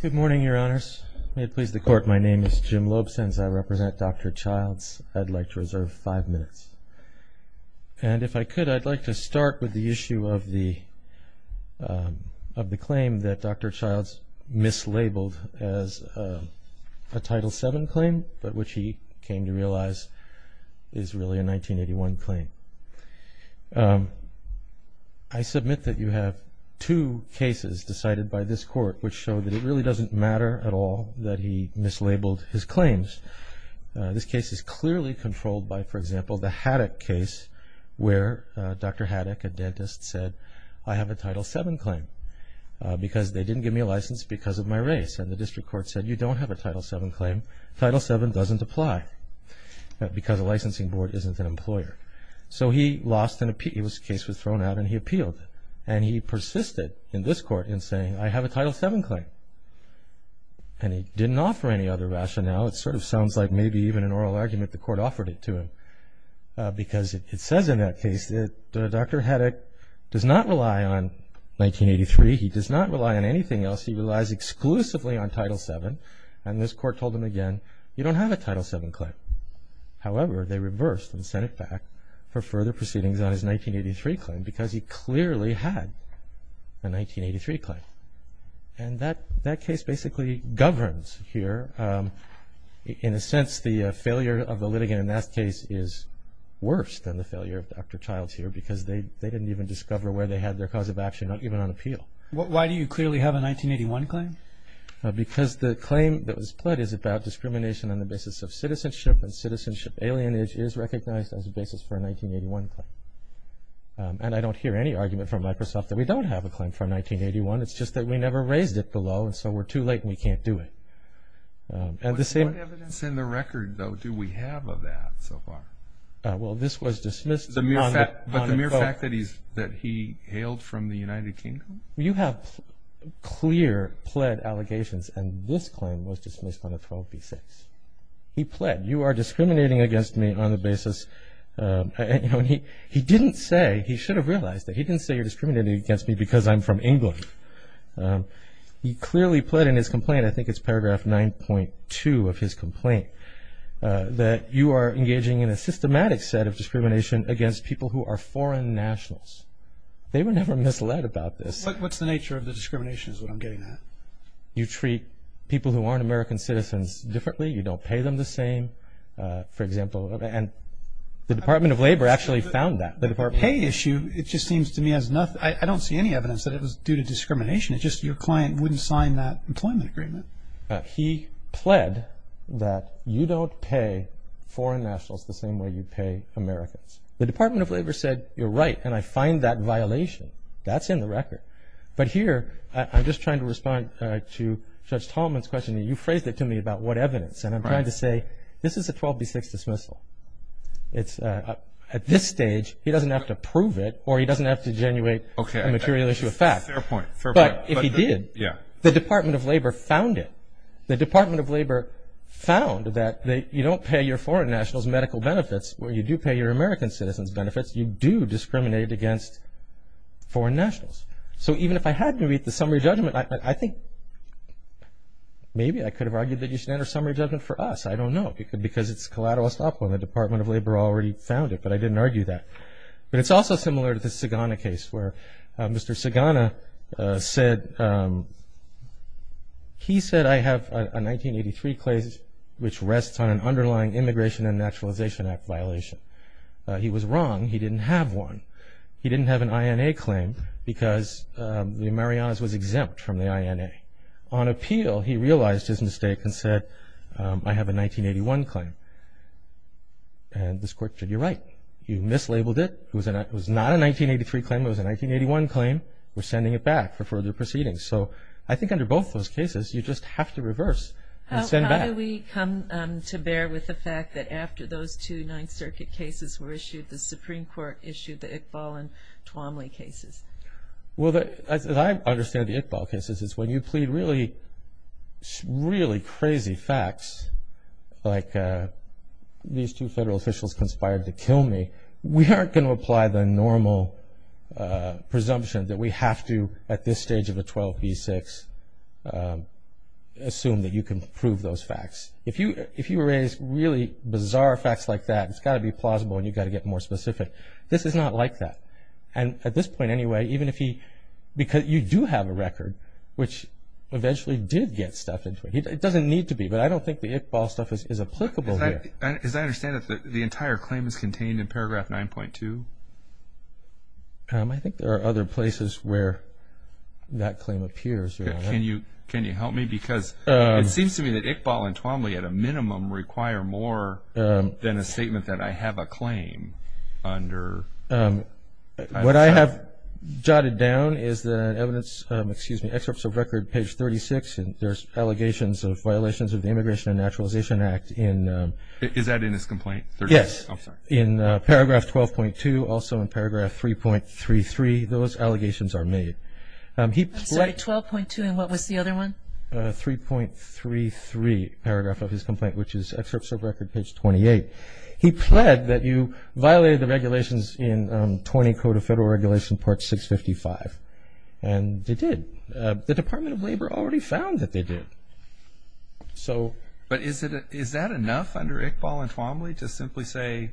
Good morning, Your Honors. May it please the Court, my name is Jim Loeb. Since I represent Dr. Childs, I'd like to reserve five minutes. And if I could, I'd like to start with the issue of the claim that Dr. Childs mislabeled as a Title VII claim, but which he came to realize is really a 1981 claim. I submit that you have two cases decided by this Court which show that it really doesn't matter at all that he mislabeled his claims. This case is clearly controlled by, for example, the Haddock case where Dr. Haddock, a dentist, said, I have a Title VII claim because they didn't give me a license because of my race. And the District Court said, you don't have a Title VII claim. Title VII doesn't apply because a licensing board isn't an employer. So he lost an appeal. His case was thrown out and he appealed. And he persisted in this Court in saying, I have a Title VII claim. And he didn't offer any other rationale. It sort of sounds like maybe even an oral argument the Court offered it to him. Because it says in that case that Dr. Haddock does not rely on 1983. He does not rely on anything else. He relies exclusively on Title VII. And this Court told him again, you don't have a Title VII claim. However, they reversed and sent it back for further proceedings on his 1983 claim because he clearly had a 1983 claim. And that case basically governs here. In a sense, the failure of the litigant in that case is worse than the failure of Dr. Childs here because they didn't even discover where they had their cause of action, not even on appeal. Why do you clearly have a 1981 claim? Because the claim that was pled is about discrimination on the basis of citizenship. And citizenship alienage is recognized as a basis for a 1981 claim. And I don't hear any argument from Microsoft that we don't have a claim from 1981. It's just that we never raised it below and so we're too late and we can't do it. What evidence in the record, though, do we have of that so far? Well, this was dismissed. But the mere fact that he hailed from the United Kingdom? You have clear pled allegations and this claim was dismissed on a 12b6. He pled, you are discriminating against me on the basis. He didn't say, he should have realized that, he didn't say you're discriminating against me because I'm from England. He clearly pled in his complaint, I think it's paragraph 9.2 of his complaint, that you are engaging in a systematic set of discrimination against people who are foreign nationals. They were never misled about this. What's the nature of the discrimination is what I'm getting at. You treat people who aren't American citizens differently. You don't pay them the same, for example. And the Department of Labor actually found that. The pay issue, it just seems to me as nothing. I don't see any evidence that it was due to discrimination. It's just your client wouldn't sign that employment agreement. He pled that you don't pay foreign nationals the same way you pay Americans. The Department of Labor said, you're right, and I find that violation. That's in the record. But here, I'm just trying to respond to Judge Tallman's question. You phrased it to me about what evidence. And I'm trying to say, this is a 12b6 dismissal. At this stage, he doesn't have to prove it or he doesn't have to genuate a material issue of fact. Fair point. But if he did, the Department of Labor found it. The Department of Labor found that you don't pay your foreign nationals medical benefits where you do pay your American citizens benefits. You do discriminate against foreign nationals. So even if I had to read the summary judgment, I think maybe I could have argued that you should enter summary judgment for us. I don't know. Because it's collateral estoppel and the Department of Labor already found it. But I didn't argue that. But it's also similar to the Sagana case where Mr. Sagana said, he said, I have a 1983 claim which rests on an underlying Immigration and Naturalization Act violation. He was wrong. He didn't have one. He didn't have an INA claim because the Marianas was exempt from the INA. On appeal, he realized his mistake and said, I have a 1981 claim. And this court said, you're right. You mislabeled it. It was not a 1983 claim. It was a 1981 claim. We're sending it back for further proceedings. So I think under both those cases, you just have to reverse and send back. How do we come to bear with the fact that after those two Ninth Circuit cases were issued, the Supreme Court issued the Iqbal and Twomley cases? Well, as I understand the Iqbal cases, it's when you plead really, really crazy facts, like these two federal officials conspired to kill me. We aren't going to apply the normal presumption that we have to at this stage of a 12 v. 6 assume that you can prove those facts. If you raise really bizarre facts like that, it's got to be plausible and you've got to get more specific. This is not like that. And at this point anyway, even if he – because you do have a record, which eventually did get stuffed into it. It doesn't need to be, but I don't think the Iqbal stuff is applicable here. As I understand it, the entire claim is contained in paragraph 9.2? I think there are other places where that claim appears. Can you help me? Because it seems to me that Iqbal and Twomley at a minimum require more than a statement that I have a claim under. What I have jotted down is the evidence, excuse me, excerpts of record page 36, and there's allegations of violations of the Immigration and Naturalization Act in – Is that in his complaint? Yes. I'm sorry. In paragraph 12.2, also in paragraph 3.33, those allegations are made. I'm sorry, 12.2 and what was the other one? 3.33, paragraph of his complaint, which is excerpts of record page 28. He pled that you violated the regulations in 20 Code of Federal Regulations, Part 655, and they did. The Department of Labor already found that they did. But is that enough under Iqbal and Twomley to simply say,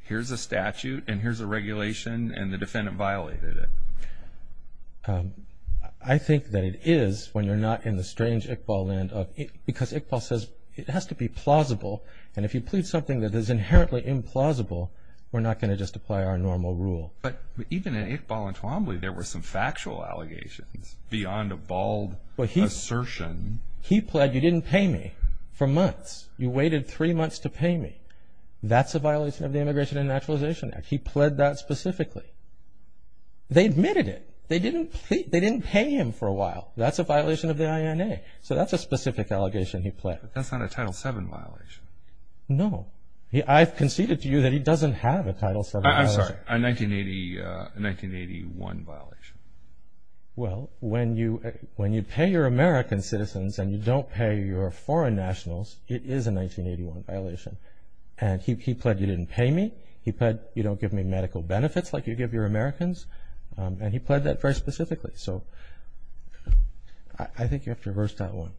here's a statute and here's a regulation and the defendant violated it? I think that it is when you're not in the strange Iqbal land of – because Iqbal says it has to be plausible, and if you plead something that is inherently implausible, we're not going to just apply our normal rule. But even in Iqbal and Twomley, there were some factual allegations beyond a bald assertion. He pled you didn't pay me for months. You waited three months to pay me. That's a violation of the Immigration and Naturalization Act. He pled that specifically. They admitted it. They didn't pay him for a while. That's a violation of the INA. So that's a specific allegation he pled. That's not a Title VII violation. No. I've conceded to you that he doesn't have a Title VII violation. I'm sorry, a 1981 violation. Well, when you pay your American citizens and you don't pay your foreign nationals, it is a 1981 violation. And he pled you didn't pay me. He pled you don't give me medical benefits like you give your Americans. And he pled that very specifically. So I think you have to reverse that one.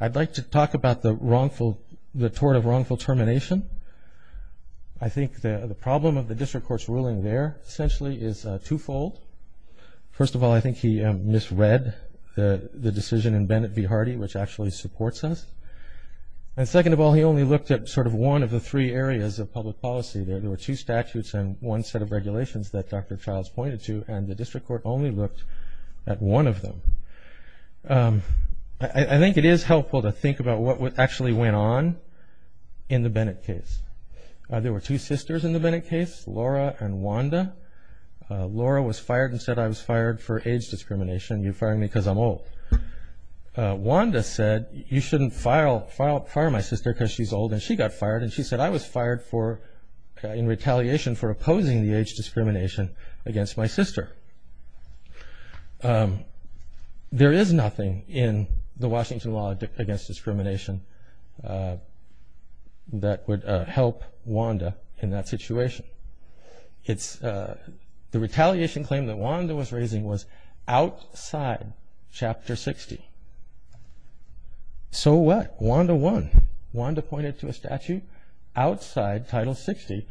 I'd like to talk about the tort of wrongful termination. I think the problem of the district court's ruling there essentially is twofold. First of all, I think he misread the decision in Bennett v. Hardy, which actually supports us. And second of all, he only looked at sort of one of the three areas of public policy. There were two statutes and one set of regulations that Dr. Childs pointed to, and the district court only looked at one of them. I think it is helpful to think about what actually went on in the Bennett case. There were two sisters in the Bennett case, Laura and Wanda. Laura was fired and said, I was fired for age discrimination. You're firing me because I'm old. Wanda said, you shouldn't fire my sister because she's old, and she got fired. And she said, I was fired in retaliation for opposing the age discrimination against my sister. There is nothing in the Washington law against discrimination that would help Wanda in that situation. The retaliation claim that Wanda was raising was outside Chapter 60. So what? Wanda won. Wanda pointed to a statute outside Title 60,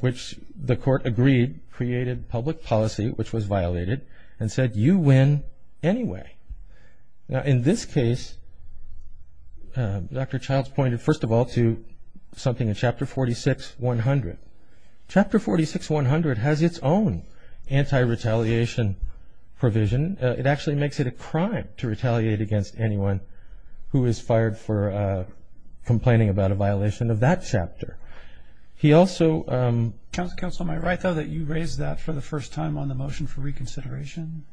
which the court agreed created public policy, which was violated, and said, you win anyway. Now, in this case, Dr. Childs pointed first of all to something in Chapter 46-100. Chapter 46-100 has its own anti-retaliation provision. It actually makes it a crime to retaliate against anyone who is fired for complaining about a violation of that chapter. Counsel, am I right, though, that you raised that for the first time on the motion for reconsideration?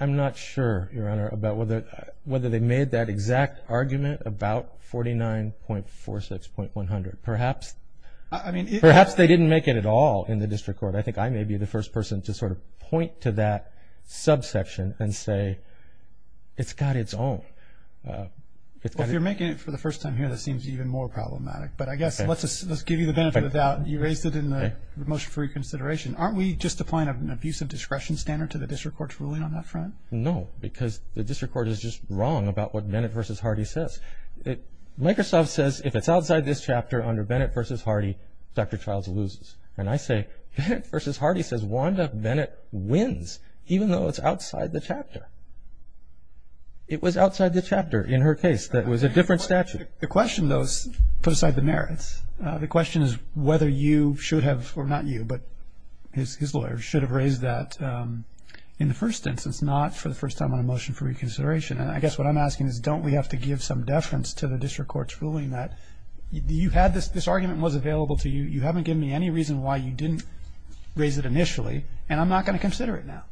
I'm not sure, Your Honor, about whether they made that exact argument about 49.46.100. Perhaps they didn't make it at all in the district court. I think I may be the first person to sort of point to that subsection and say, it's got its own. Well, if you're making it for the first time here, that seems even more problematic. But I guess let's give you the benefit of the doubt. You raised it in the motion for reconsideration. Aren't we just applying an abuse of discretion standard to the district court's ruling on that front? No, because the district court is just wrong about what Bennett v. Hardy says. Microsoft says if it's outside this chapter under Bennett v. Hardy, Dr. Childs loses. And I say Bennett v. Hardy says Wanda Bennett wins, even though it's outside the chapter. It was outside the chapter in her case. That was a different statute. The question, though, is put aside the merits. The question is whether you should have, or not you, but his lawyer, should have raised that in the first instance, not for the first time on a motion for reconsideration. And I guess what I'm asking is don't we have to give some deference to the district court's ruling that you had this argument and was available to you, you haven't given me any reason why you didn't raise it initially, and I'm not going to consider it now.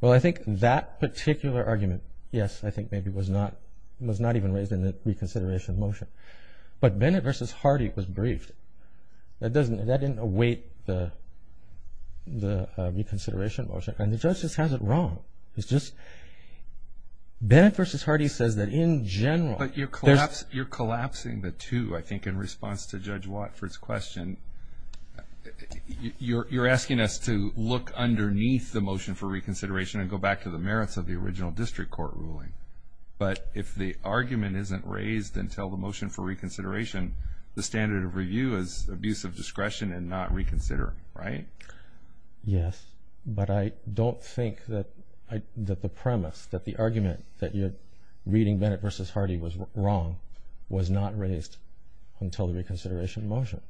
Well, I think that particular argument, yes, I think maybe was not even raised in the reconsideration motion. But Bennett v. Hardy was briefed. That didn't await the reconsideration motion. And the judge just has it wrong. Bennett v. Hardy says that in general. But you're collapsing the two, I think, in response to Judge Watford's question. You're asking us to look underneath the motion for reconsideration and go back to the merits of the original district court ruling. But if the argument isn't raised until the motion for reconsideration, the standard of review is abuse of discretion and not reconsider, right? Yes. But I don't think that the premise, that the argument that you're reading Bennett v. Hardy was wrong was not raised until the reconsideration motion.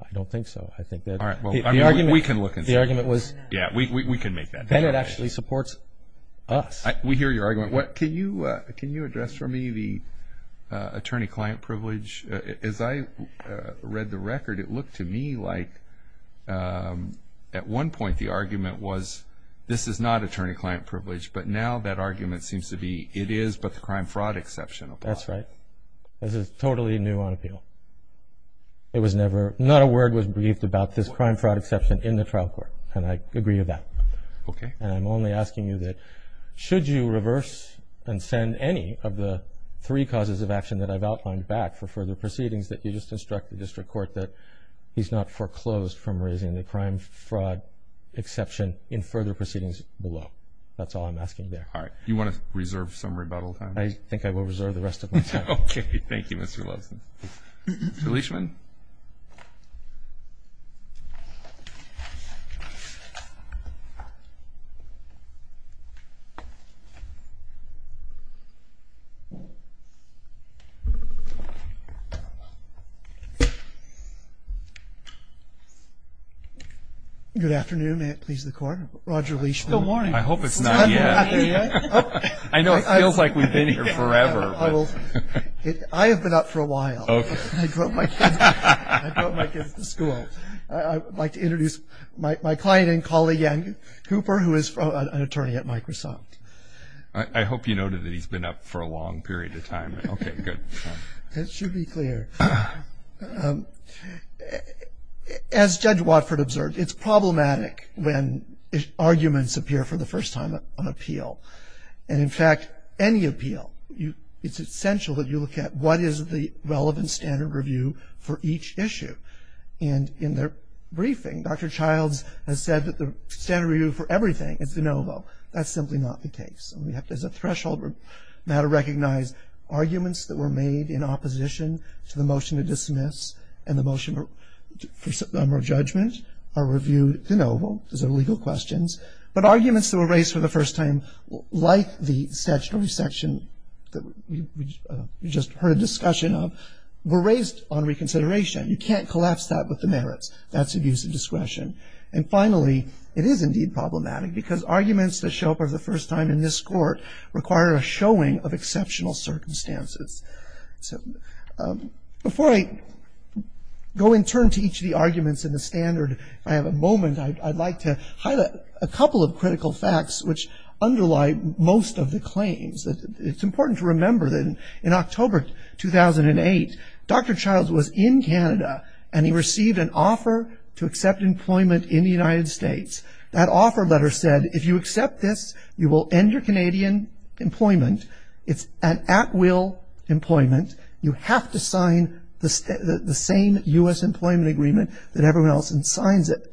I don't think so. We can look and see. Yeah, we can make that. Bennett actually supports us. We hear your argument. Can you address for me the attorney-client privilege? As I read the record, it looked to me like at one point the argument was, this is not attorney-client privilege. But now that argument seems to be, it is but the crime-fraud exception. That's right. This is totally new on appeal. Not a word was briefed about this crime-fraud exception in the trial court. And I agree with that. Okay. And I'm only asking you that should you reverse and send any of the three causes of action that I've outlined back for further proceedings that you just instruct the district court that he's not foreclosed from raising the crime-fraud exception in further proceedings below. That's all I'm asking there. All right. You want to reserve some rebuttal time? I think I will reserve the rest of my time. Okay. Thank you, Mr. Loveson. Leishman. Good afternoon. May it please the Court. Roger Leishman. Good morning. I hope it's not yet. I know it feels like we've been here forever. I have been up for a while. Okay. I brought my kids to school. I would like to introduce my client and colleague, Ian Cooper, who is an attorney at Microsoft. I hope you noted that he's been up for a long period of time. Okay. Good. That should be clear. As Judge Watford observed, it's problematic when arguments appear for the first time on appeal. And, in fact, any appeal, it's essential that you look at what is the relevant standard review for each issue. And in their briefing, Dr. Childs has said that the standard review for everything is de novo. That's simply not the case. And we have to, as a threshold, we have to recognize arguments that were made in opposition to the motion to dismiss and the motion of judgment are reviewed de novo. Those are legal questions. But arguments that were raised for the first time, like the statutory section that we just heard a discussion of, were raised on reconsideration. You can't collapse that with the merits. That's abuse of discretion. And, finally, it is indeed problematic because arguments that show up for the first time in this court require a showing of exceptional circumstances. So before I go in turn to each of the arguments in the standard, if I have a moment, I'd like to highlight a couple of critical facts which underlie most of the claims. It's important to remember that in October 2008, Dr. Childs was in Canada and he received an offer to accept employment in the United States. That offer letter said, if you accept this, you will end your Canadian employment. It's an at-will employment. You have to sign the same U.S. employment agreement that everyone else signs it.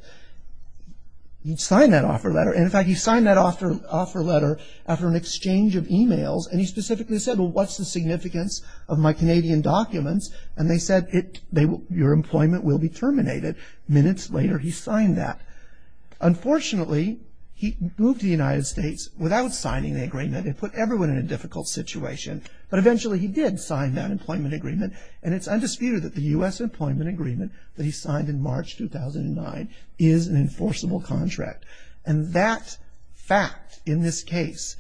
He signed that offer letter. And, in fact, he signed that offer letter after an exchange of e-mails. And he specifically said, well, what's the significance of my Canadian documents? And they said, your employment will be terminated. Minutes later, he signed that. Unfortunately, he moved to the United States without signing the agreement. It put everyone in a difficult situation. But, eventually, he did sign that employment agreement, and it's undisputed that the U.S. employment agreement that he signed in March 2009 is an enforceable contract. And that fact in this case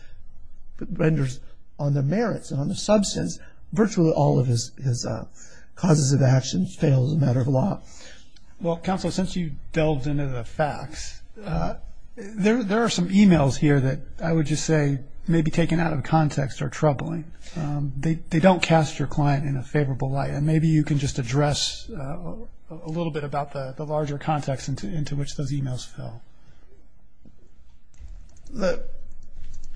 renders on the merits and on the substance virtually all of his causes of action fail as a matter of law. Well, Counsel, since you delved into the facts, there are some e-mails here that I would just say may be taken out of context or troubling. They don't cast your client in a favorable light. And maybe you can just address a little bit about the larger context into which those e-mails fell. The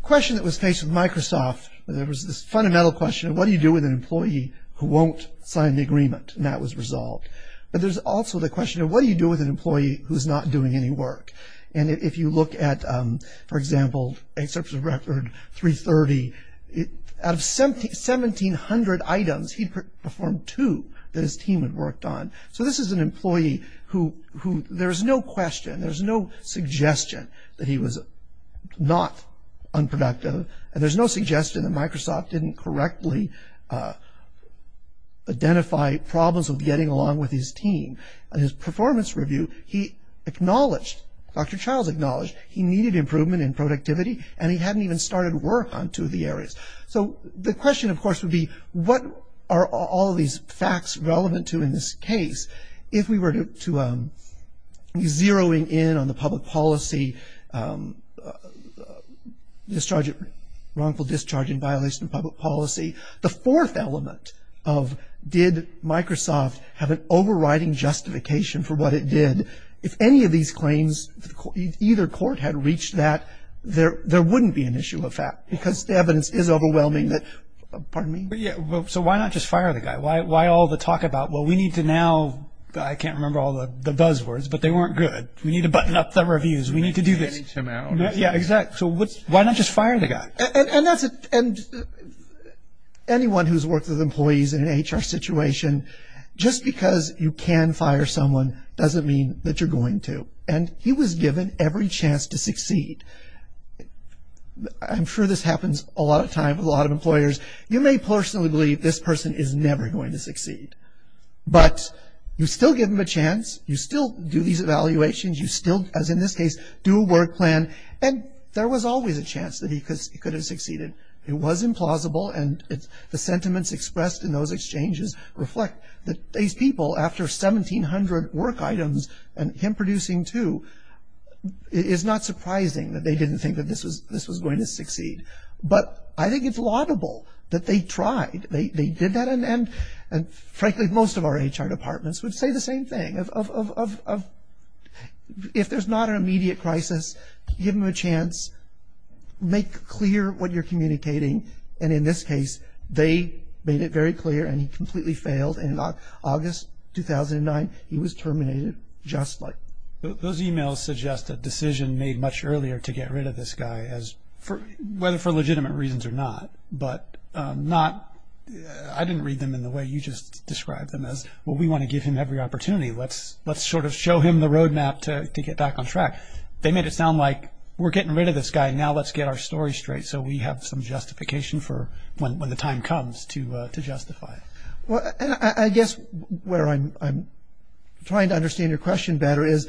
question that was faced with Microsoft, there was this fundamental question, what do you do with an employee who won't sign the agreement? And that was resolved. But there's also the question of what do you do with an employee who's not doing any work? And if you look at, for example, a service record 330, out of 1,700 items, he performed two that his team had worked on. So this is an employee who there's no question, there's no suggestion that he was not unproductive, and there's no suggestion that Microsoft didn't correctly identify problems with getting along with his team. In his performance review, he acknowledged, Dr. Childs acknowledged, he needed improvement in productivity and he hadn't even started work on two of the areas. So the question, of course, would be what are all these facts relevant to in this case? If we were to be zeroing in on the public policy, wrongful discharge in violation of public policy, the fourth element of did Microsoft have an overriding justification for what it did, if any of these claims, if either court had reached that, there wouldn't be an issue of fact, because the evidence is overwhelming that, pardon me? So why not just fire the guy? Why all the talk about, well, we need to now, I can't remember all the buzzwords, but they weren't good. We need to button up the reviews. We need to do this. We need to finish him out. Yeah, exactly. So why not just fire the guy? And anyone who's worked with employees in an HR situation, just because you can fire someone doesn't mean that you're going to. And he was given every chance to succeed. I'm sure this happens a lot of times with a lot of employers. You may personally believe this person is never going to succeed. But you still give him a chance. You still do these evaluations. You still, as in this case, do a work plan. And there was always a chance that he could have succeeded. It was implausible, and the sentiments expressed in those exchanges reflect that these people, after 1,700 work items and him producing two, I think it's laudable that they tried. They did that. And, frankly, most of our HR departments would say the same thing. If there's not an immediate crisis, give him a chance. Make clear what you're communicating. And in this case, they made it very clear, and he completely failed. And in August 2009, he was terminated just like that. Those e-mails suggest a decision made much earlier to get rid of this guy, whether for legitimate reasons or not. But I didn't read them in the way you just described them as, well, we want to give him every opportunity. Let's sort of show him the roadmap to get back on track. They made it sound like we're getting rid of this guy, now let's get our story straight so we have some justification for when the time comes to justify it. Well, I guess where I'm trying to understand your question better is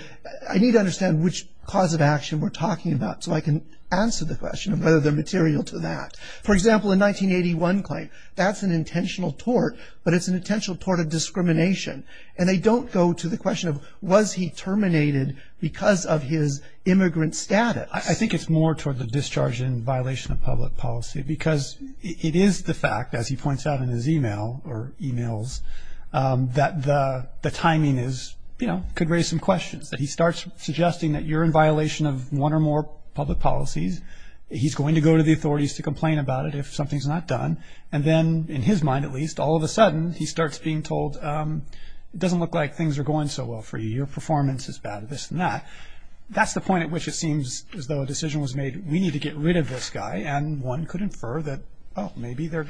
I need to understand which cause of action we're talking about so I can answer the question of whether they're material to that. For example, a 1981 claim, that's an intentional tort, but it's an intentional tort of discrimination. And they don't go to the question of was he terminated because of his immigrant status. I think it's more toward the discharge and violation of public policy because it is the fact, as he points out in his e-mail or e-mails, that the timing could raise some questions. He starts suggesting that you're in violation of one or more public policies. He's going to go to the authorities to complain about it if something's not done. And then, in his mind at least, all of a sudden he starts being told it doesn't look like things are going so well for you, your performance is bad, this and that. That's the point at which it seems as though a decision was made, we need to get rid of this guy, and one could infer that, oh, maybe the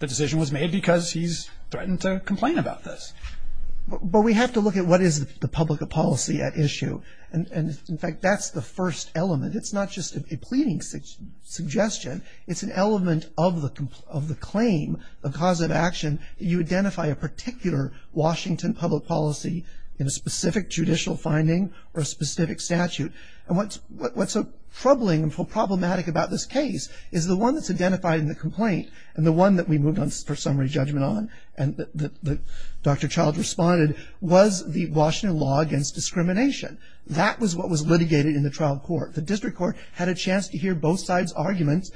decision was made because he's threatened to complain about this. But we have to look at what is the public policy at issue. In fact, that's the first element. It's not just a pleading suggestion. It's an element of the claim, the cause of action. You identify a particular Washington public policy in a specific judicial finding or a specific statute. And what's so troubling and problematic about this case is the one that's identified in the complaint, and the one that we moved on for summary judgment on, and that Dr. Childs responded, was the Washington Law Against Discrimination. That was what was litigated in the trial court. The district court had a chance to hear both sides' arguments.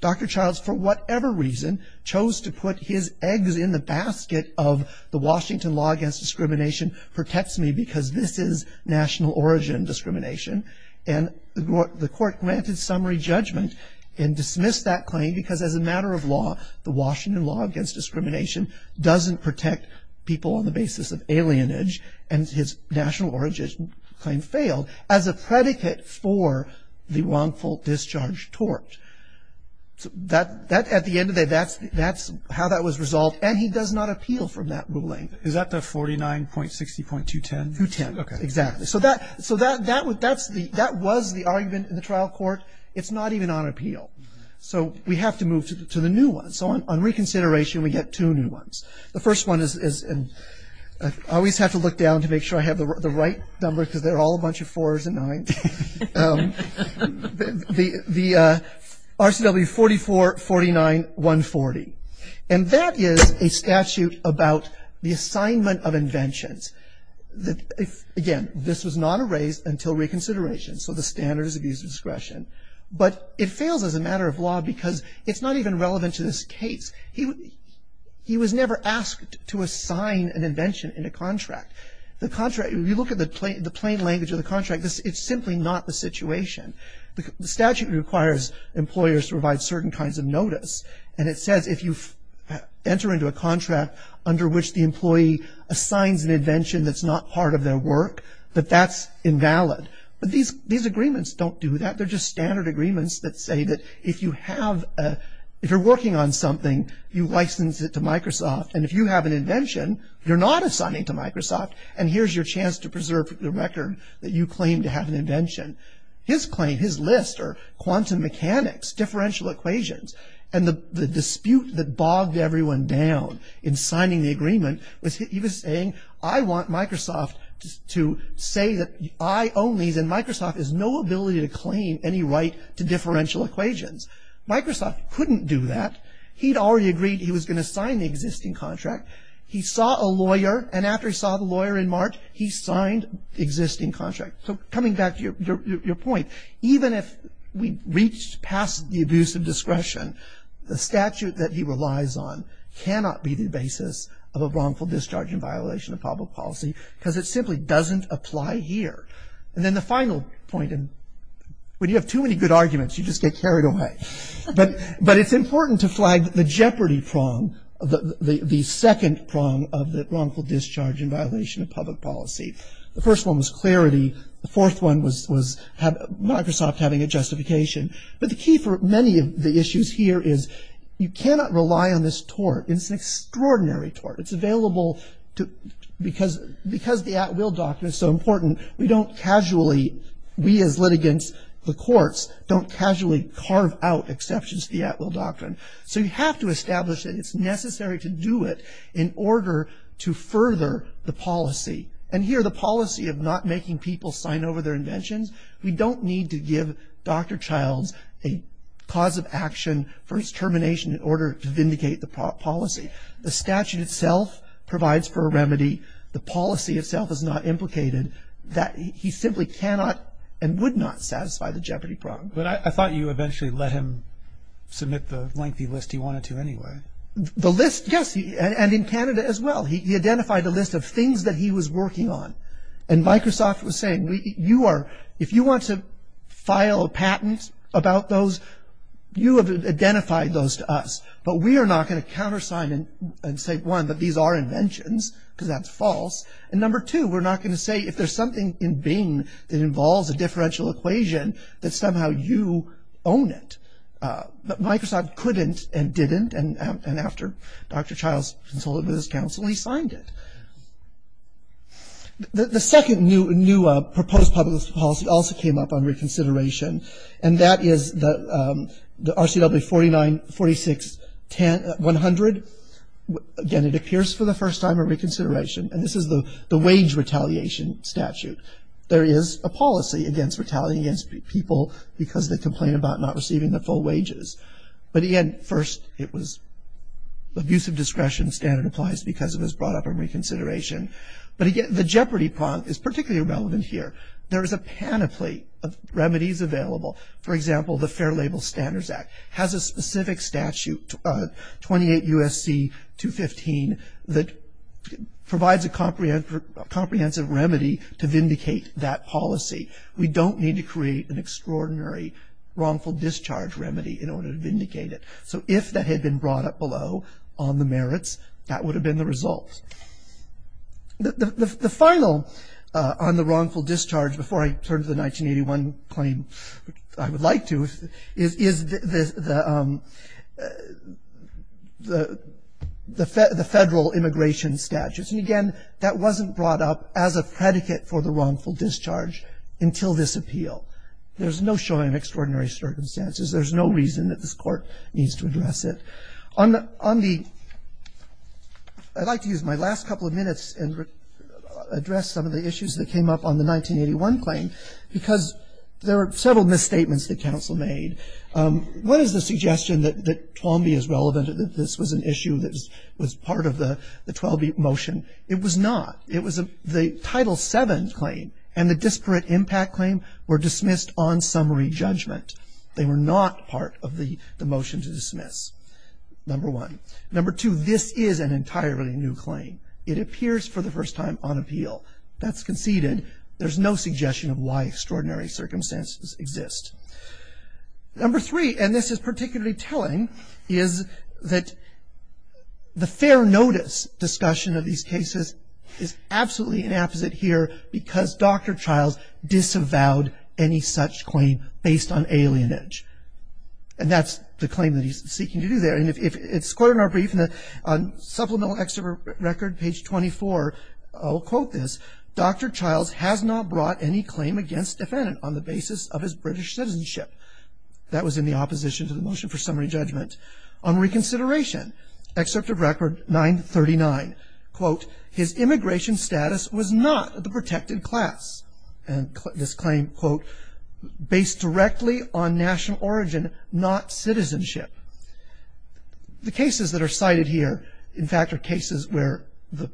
Dr. Childs, for whatever reason, chose to put his eggs in the basket of the Washington Law Against Discrimination protects me because this is national origin discrimination. And the court granted summary judgment and dismissed that claim because as a matter of law, the Washington Law Against Discrimination doesn't protect people on the basis of alienage, and his national origin claim failed as a predicate for the wrongful discharge tort. At the end of the day, that's how that was resolved, and he does not appeal from that ruling. Is that the 49.60.210? 210. Okay. Exactly. So that was the argument in the trial court. It's not even on appeal. So we have to move to the new one. So on reconsideration, we get two new ones. The first one is always have to look down to make sure I have the right number because they're all a bunch of fours and nines. The RCW 4449.140. And that is a statute about the assignment of inventions. Again, this was not erased until reconsideration, so the standards of user discretion. But it fails as a matter of law because it's not even relevant to this case. If you look at the plain language of the contract, it's simply not the situation. The statute requires employers to provide certain kinds of notice, and it says if you enter into a contract under which the employee assigns an invention that's not part of their work, that that's invalid. But these agreements don't do that. They're just standard agreements that say that if you're working on something, you license it to Microsoft, and if you have an invention, you're not assigning to Microsoft, and here's your chance to preserve the record that you claim to have an invention. His claim, his list are quantum mechanics, differential equations, and the dispute that bogged everyone down in signing the agreement was he was saying, I want Microsoft to say that I own these, and Microsoft has no ability to claim any right to differential equations. Microsoft couldn't do that. He'd already agreed he was going to sign the existing contract. He saw a lawyer, and after he saw the lawyer in March, he signed the existing contract. So coming back to your point, even if we reached past the abuse of discretion, the statute that he relies on cannot be the basis of a wrongful discharge and violation of public policy, because it simply doesn't apply here. And then the final point, and when you have too many good arguments, you just get carried away. But it's important to flag the jeopardy prong, the second prong of the wrongful discharge and violation of public policy. The first one was clarity. The fourth one was Microsoft having a justification. But the key for many of the issues here is you cannot rely on this tort. It's an extraordinary tort. It's available because the at will document is so important, we as litigants, the courts, don't casually carve out exceptions to the at will doctrine. So you have to establish that it's necessary to do it in order to further the policy. And here the policy of not making people sign over their inventions, we don't need to give Dr. Childs a cause of action for his termination in order to vindicate the policy. The statute itself provides for a remedy. The policy itself is not implicated. He simply cannot and would not satisfy the jeopardy prong. But I thought you eventually let him submit the lengthy list he wanted to anyway. The list, yes, and in Canada as well. He identified a list of things that he was working on. And Microsoft was saying, if you want to file a patent about those, you have identified those to us. But we are not going to countersign and say, one, that these are inventions, because that's false. And number two, we're not going to say, if there's something in Bing that involves a differential equation, that somehow you own it. But Microsoft couldn't and didn't. And after Dr. Childs consulted with his counsel, he signed it. The second new proposed public policy also came up on reconsideration. And that is the RCW 4946-100. Again, it appears for the first time a reconsideration. And this is the wage retaliation statute. There is a policy against retaliating against people because they complain about not receiving their full wages. But again, first it was abusive discretion standard applies because it was brought up in reconsideration. But again, the jeopardy prong is particularly relevant here. There is a panoply of remedies available. For example, the Fair Label Standards Act has a specific statute, 28 U.S.C. 215, that provides a comprehensive remedy to vindicate that policy. We don't need to create an extraordinary wrongful discharge remedy in order to vindicate it. So if that had been brought up below on the merits, that would have been the result. The final on the wrongful discharge, before I turn to the 1981 claim I would like to, is the Federal Immigration Statutes. And again, that wasn't brought up as a predicate for the wrongful discharge until this appeal. There's no showing of extraordinary circumstances. There's no reason that this Court needs to address it. On the, I'd like to use my last couple of minutes and address some of the issues that came up on the 1981 claim because there are several misstatements that counsel made. One is the suggestion that TWAMBI is relevant, that this was an issue that was part of the TWAMBI motion. It was not. It was the Title VII claim, and the disparate impact claim were dismissed on summary judgment. They were not part of the motion to dismiss, number one. Number two, this is an entirely new claim. It appears for the first time on appeal. That's conceded. There's no suggestion of why extraordinary circumstances exist. Number three, and this is particularly telling, is that the fair notice discussion of these cases is absolutely inapposite here because Dr. Childs disavowed any such claim based on alienage. And that's the claim that he's seeking to do there. And it's quoted in our brief on supplemental extra record, page 24. I'll quote this. Dr. Childs has not brought any claim against defendant on the basis of his British citizenship. That was in the opposition to the motion for summary judgment. On reconsideration, Excerpt of Record 939, quote, his immigration status was not the protected class. And this claim, quote, based directly on national origin, not citizenship. The cases that are cited here, in fact, are cases where the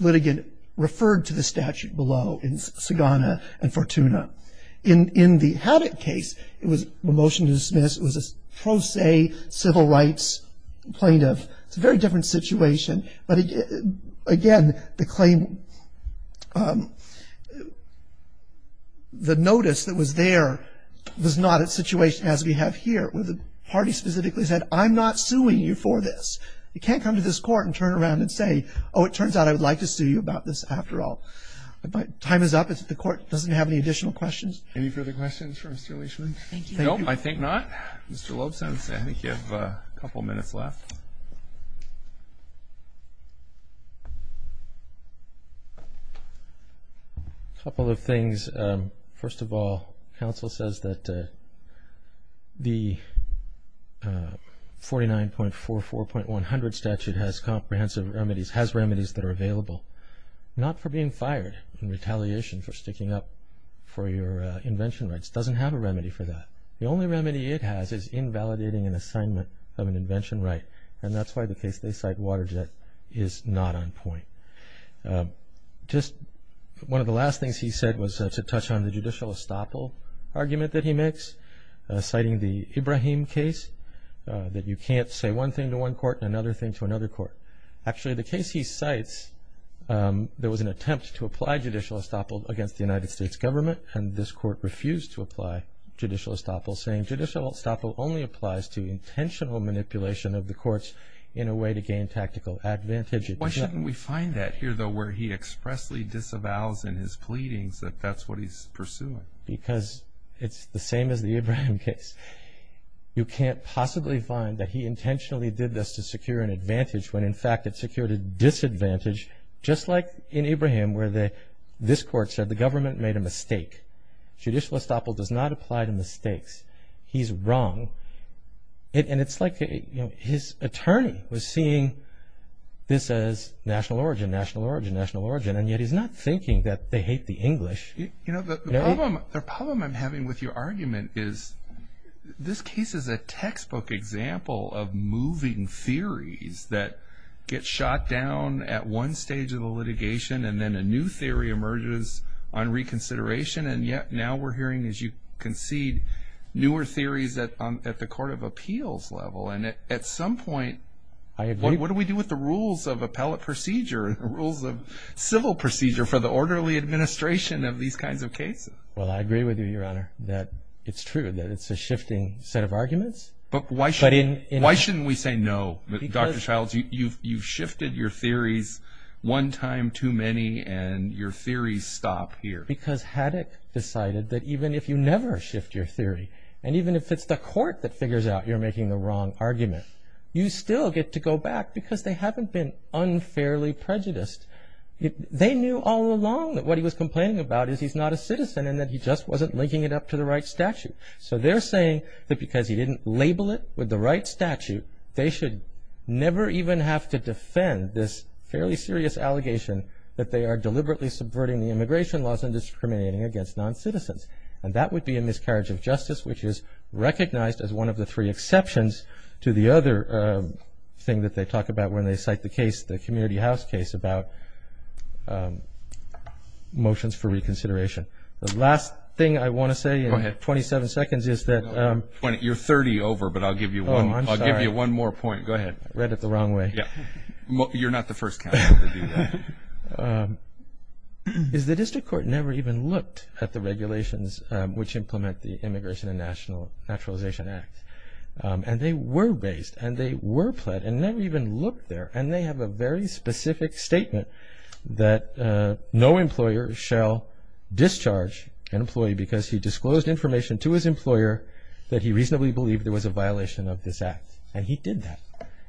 litigant referred to the statute below in Sagana and Fortuna. In the Haddock case, it was a motion to dismiss. It was a pro se civil rights plaintiff. It's a very different situation. But again, the claim, the notice that was there was not a situation as we have here where the party specifically said, I'm not suing you for this. You can't come to this court and turn around and say, oh, it turns out I would like to sue you about this after all. Time is up. The court doesn't have any additional questions. Any further questions for Mr. Leishman? Thank you. No, I think not. Mr. Lobson, I think you have a couple minutes left. A couple of things. First of all, counsel says that the 49.44.100 statute has comprehensive remedies, has remedies that are available. Not for being fired in retaliation for sticking up for your invention rights. It doesn't have a remedy for that. The only remedy it has is invalidating an assignment of an invention right, and that's why the case they cite, Waterjet, is not on point. Just one of the last things he said was to touch on the judicial estoppel argument that he makes, citing the Ibrahim case, that you can't say one thing to one court and another thing to another court. Actually, the case he cites, there was an attempt to apply judicial estoppel against the United States government, and this court refused to apply judicial estoppel, saying judicial estoppel only applies to intentional manipulation of the courts in a way to gain tactical advantage. Why shouldn't we find that here, though, where he expressly disavows in his pleadings that that's what he's pursuing? Because it's the same as the Ibrahim case. You can't possibly find that he intentionally did this to secure an advantage when, in fact, it secured a disadvantage, just like in Ibrahim, where this court said the government made a mistake. Judicial estoppel does not apply to mistakes. He's wrong. And it's like his attorney was seeing this as national origin, national origin, national origin, and yet he's not thinking that they hate the English. You know, the problem I'm having with your argument is this case is a textbook example of moving theories that get shot down at one stage of the litigation and then a new theory emerges on reconsideration, and yet now we're hearing, as you concede, newer theories at the court of appeals level. And at some point, what do we do with the rules of appellate procedure and the rules of civil procedure for the orderly administration of these kinds of cases? Well, I agree with you, Your Honor, that it's true that it's a shifting set of arguments. But why shouldn't we say no, Dr. Childs? You've shifted your theories one time too many, and your theories stop here. Because Haddock decided that even if you never shift your theory, and even if it's the court that figures out you're making the wrong argument, you still get to go back because they haven't been unfairly prejudiced. They knew all along that what he was complaining about is he's not a citizen and that he just wasn't linking it up to the right statute. So they're saying that because he didn't label it with the right statute, they should never even have to defend this fairly serious allegation that they are deliberately subverting the immigration laws and discriminating against non-citizens. And that would be a miscarriage of justice, which is recognized as one of the three exceptions to the other thing that they talk about when they cite the community house case about motions for reconsideration. The last thing I want to say in 27 seconds is that— You're 30 over, but I'll give you one more point. I read it the wrong way. You're not the first counsel to do that. The district court never even looked at the regulations which implement the Immigration and Naturalization Act. And they were based, and they were pled, and never even looked there. And they have a very specific statement that no employer shall discharge an employee because he disclosed information to his employer that he reasonably believed there was a violation of this act, and he did that.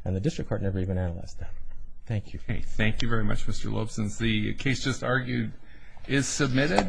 And the district court never even analyzed that. Thank you. Thank you very much, Mr. Loeb, since the case just argued is submitted.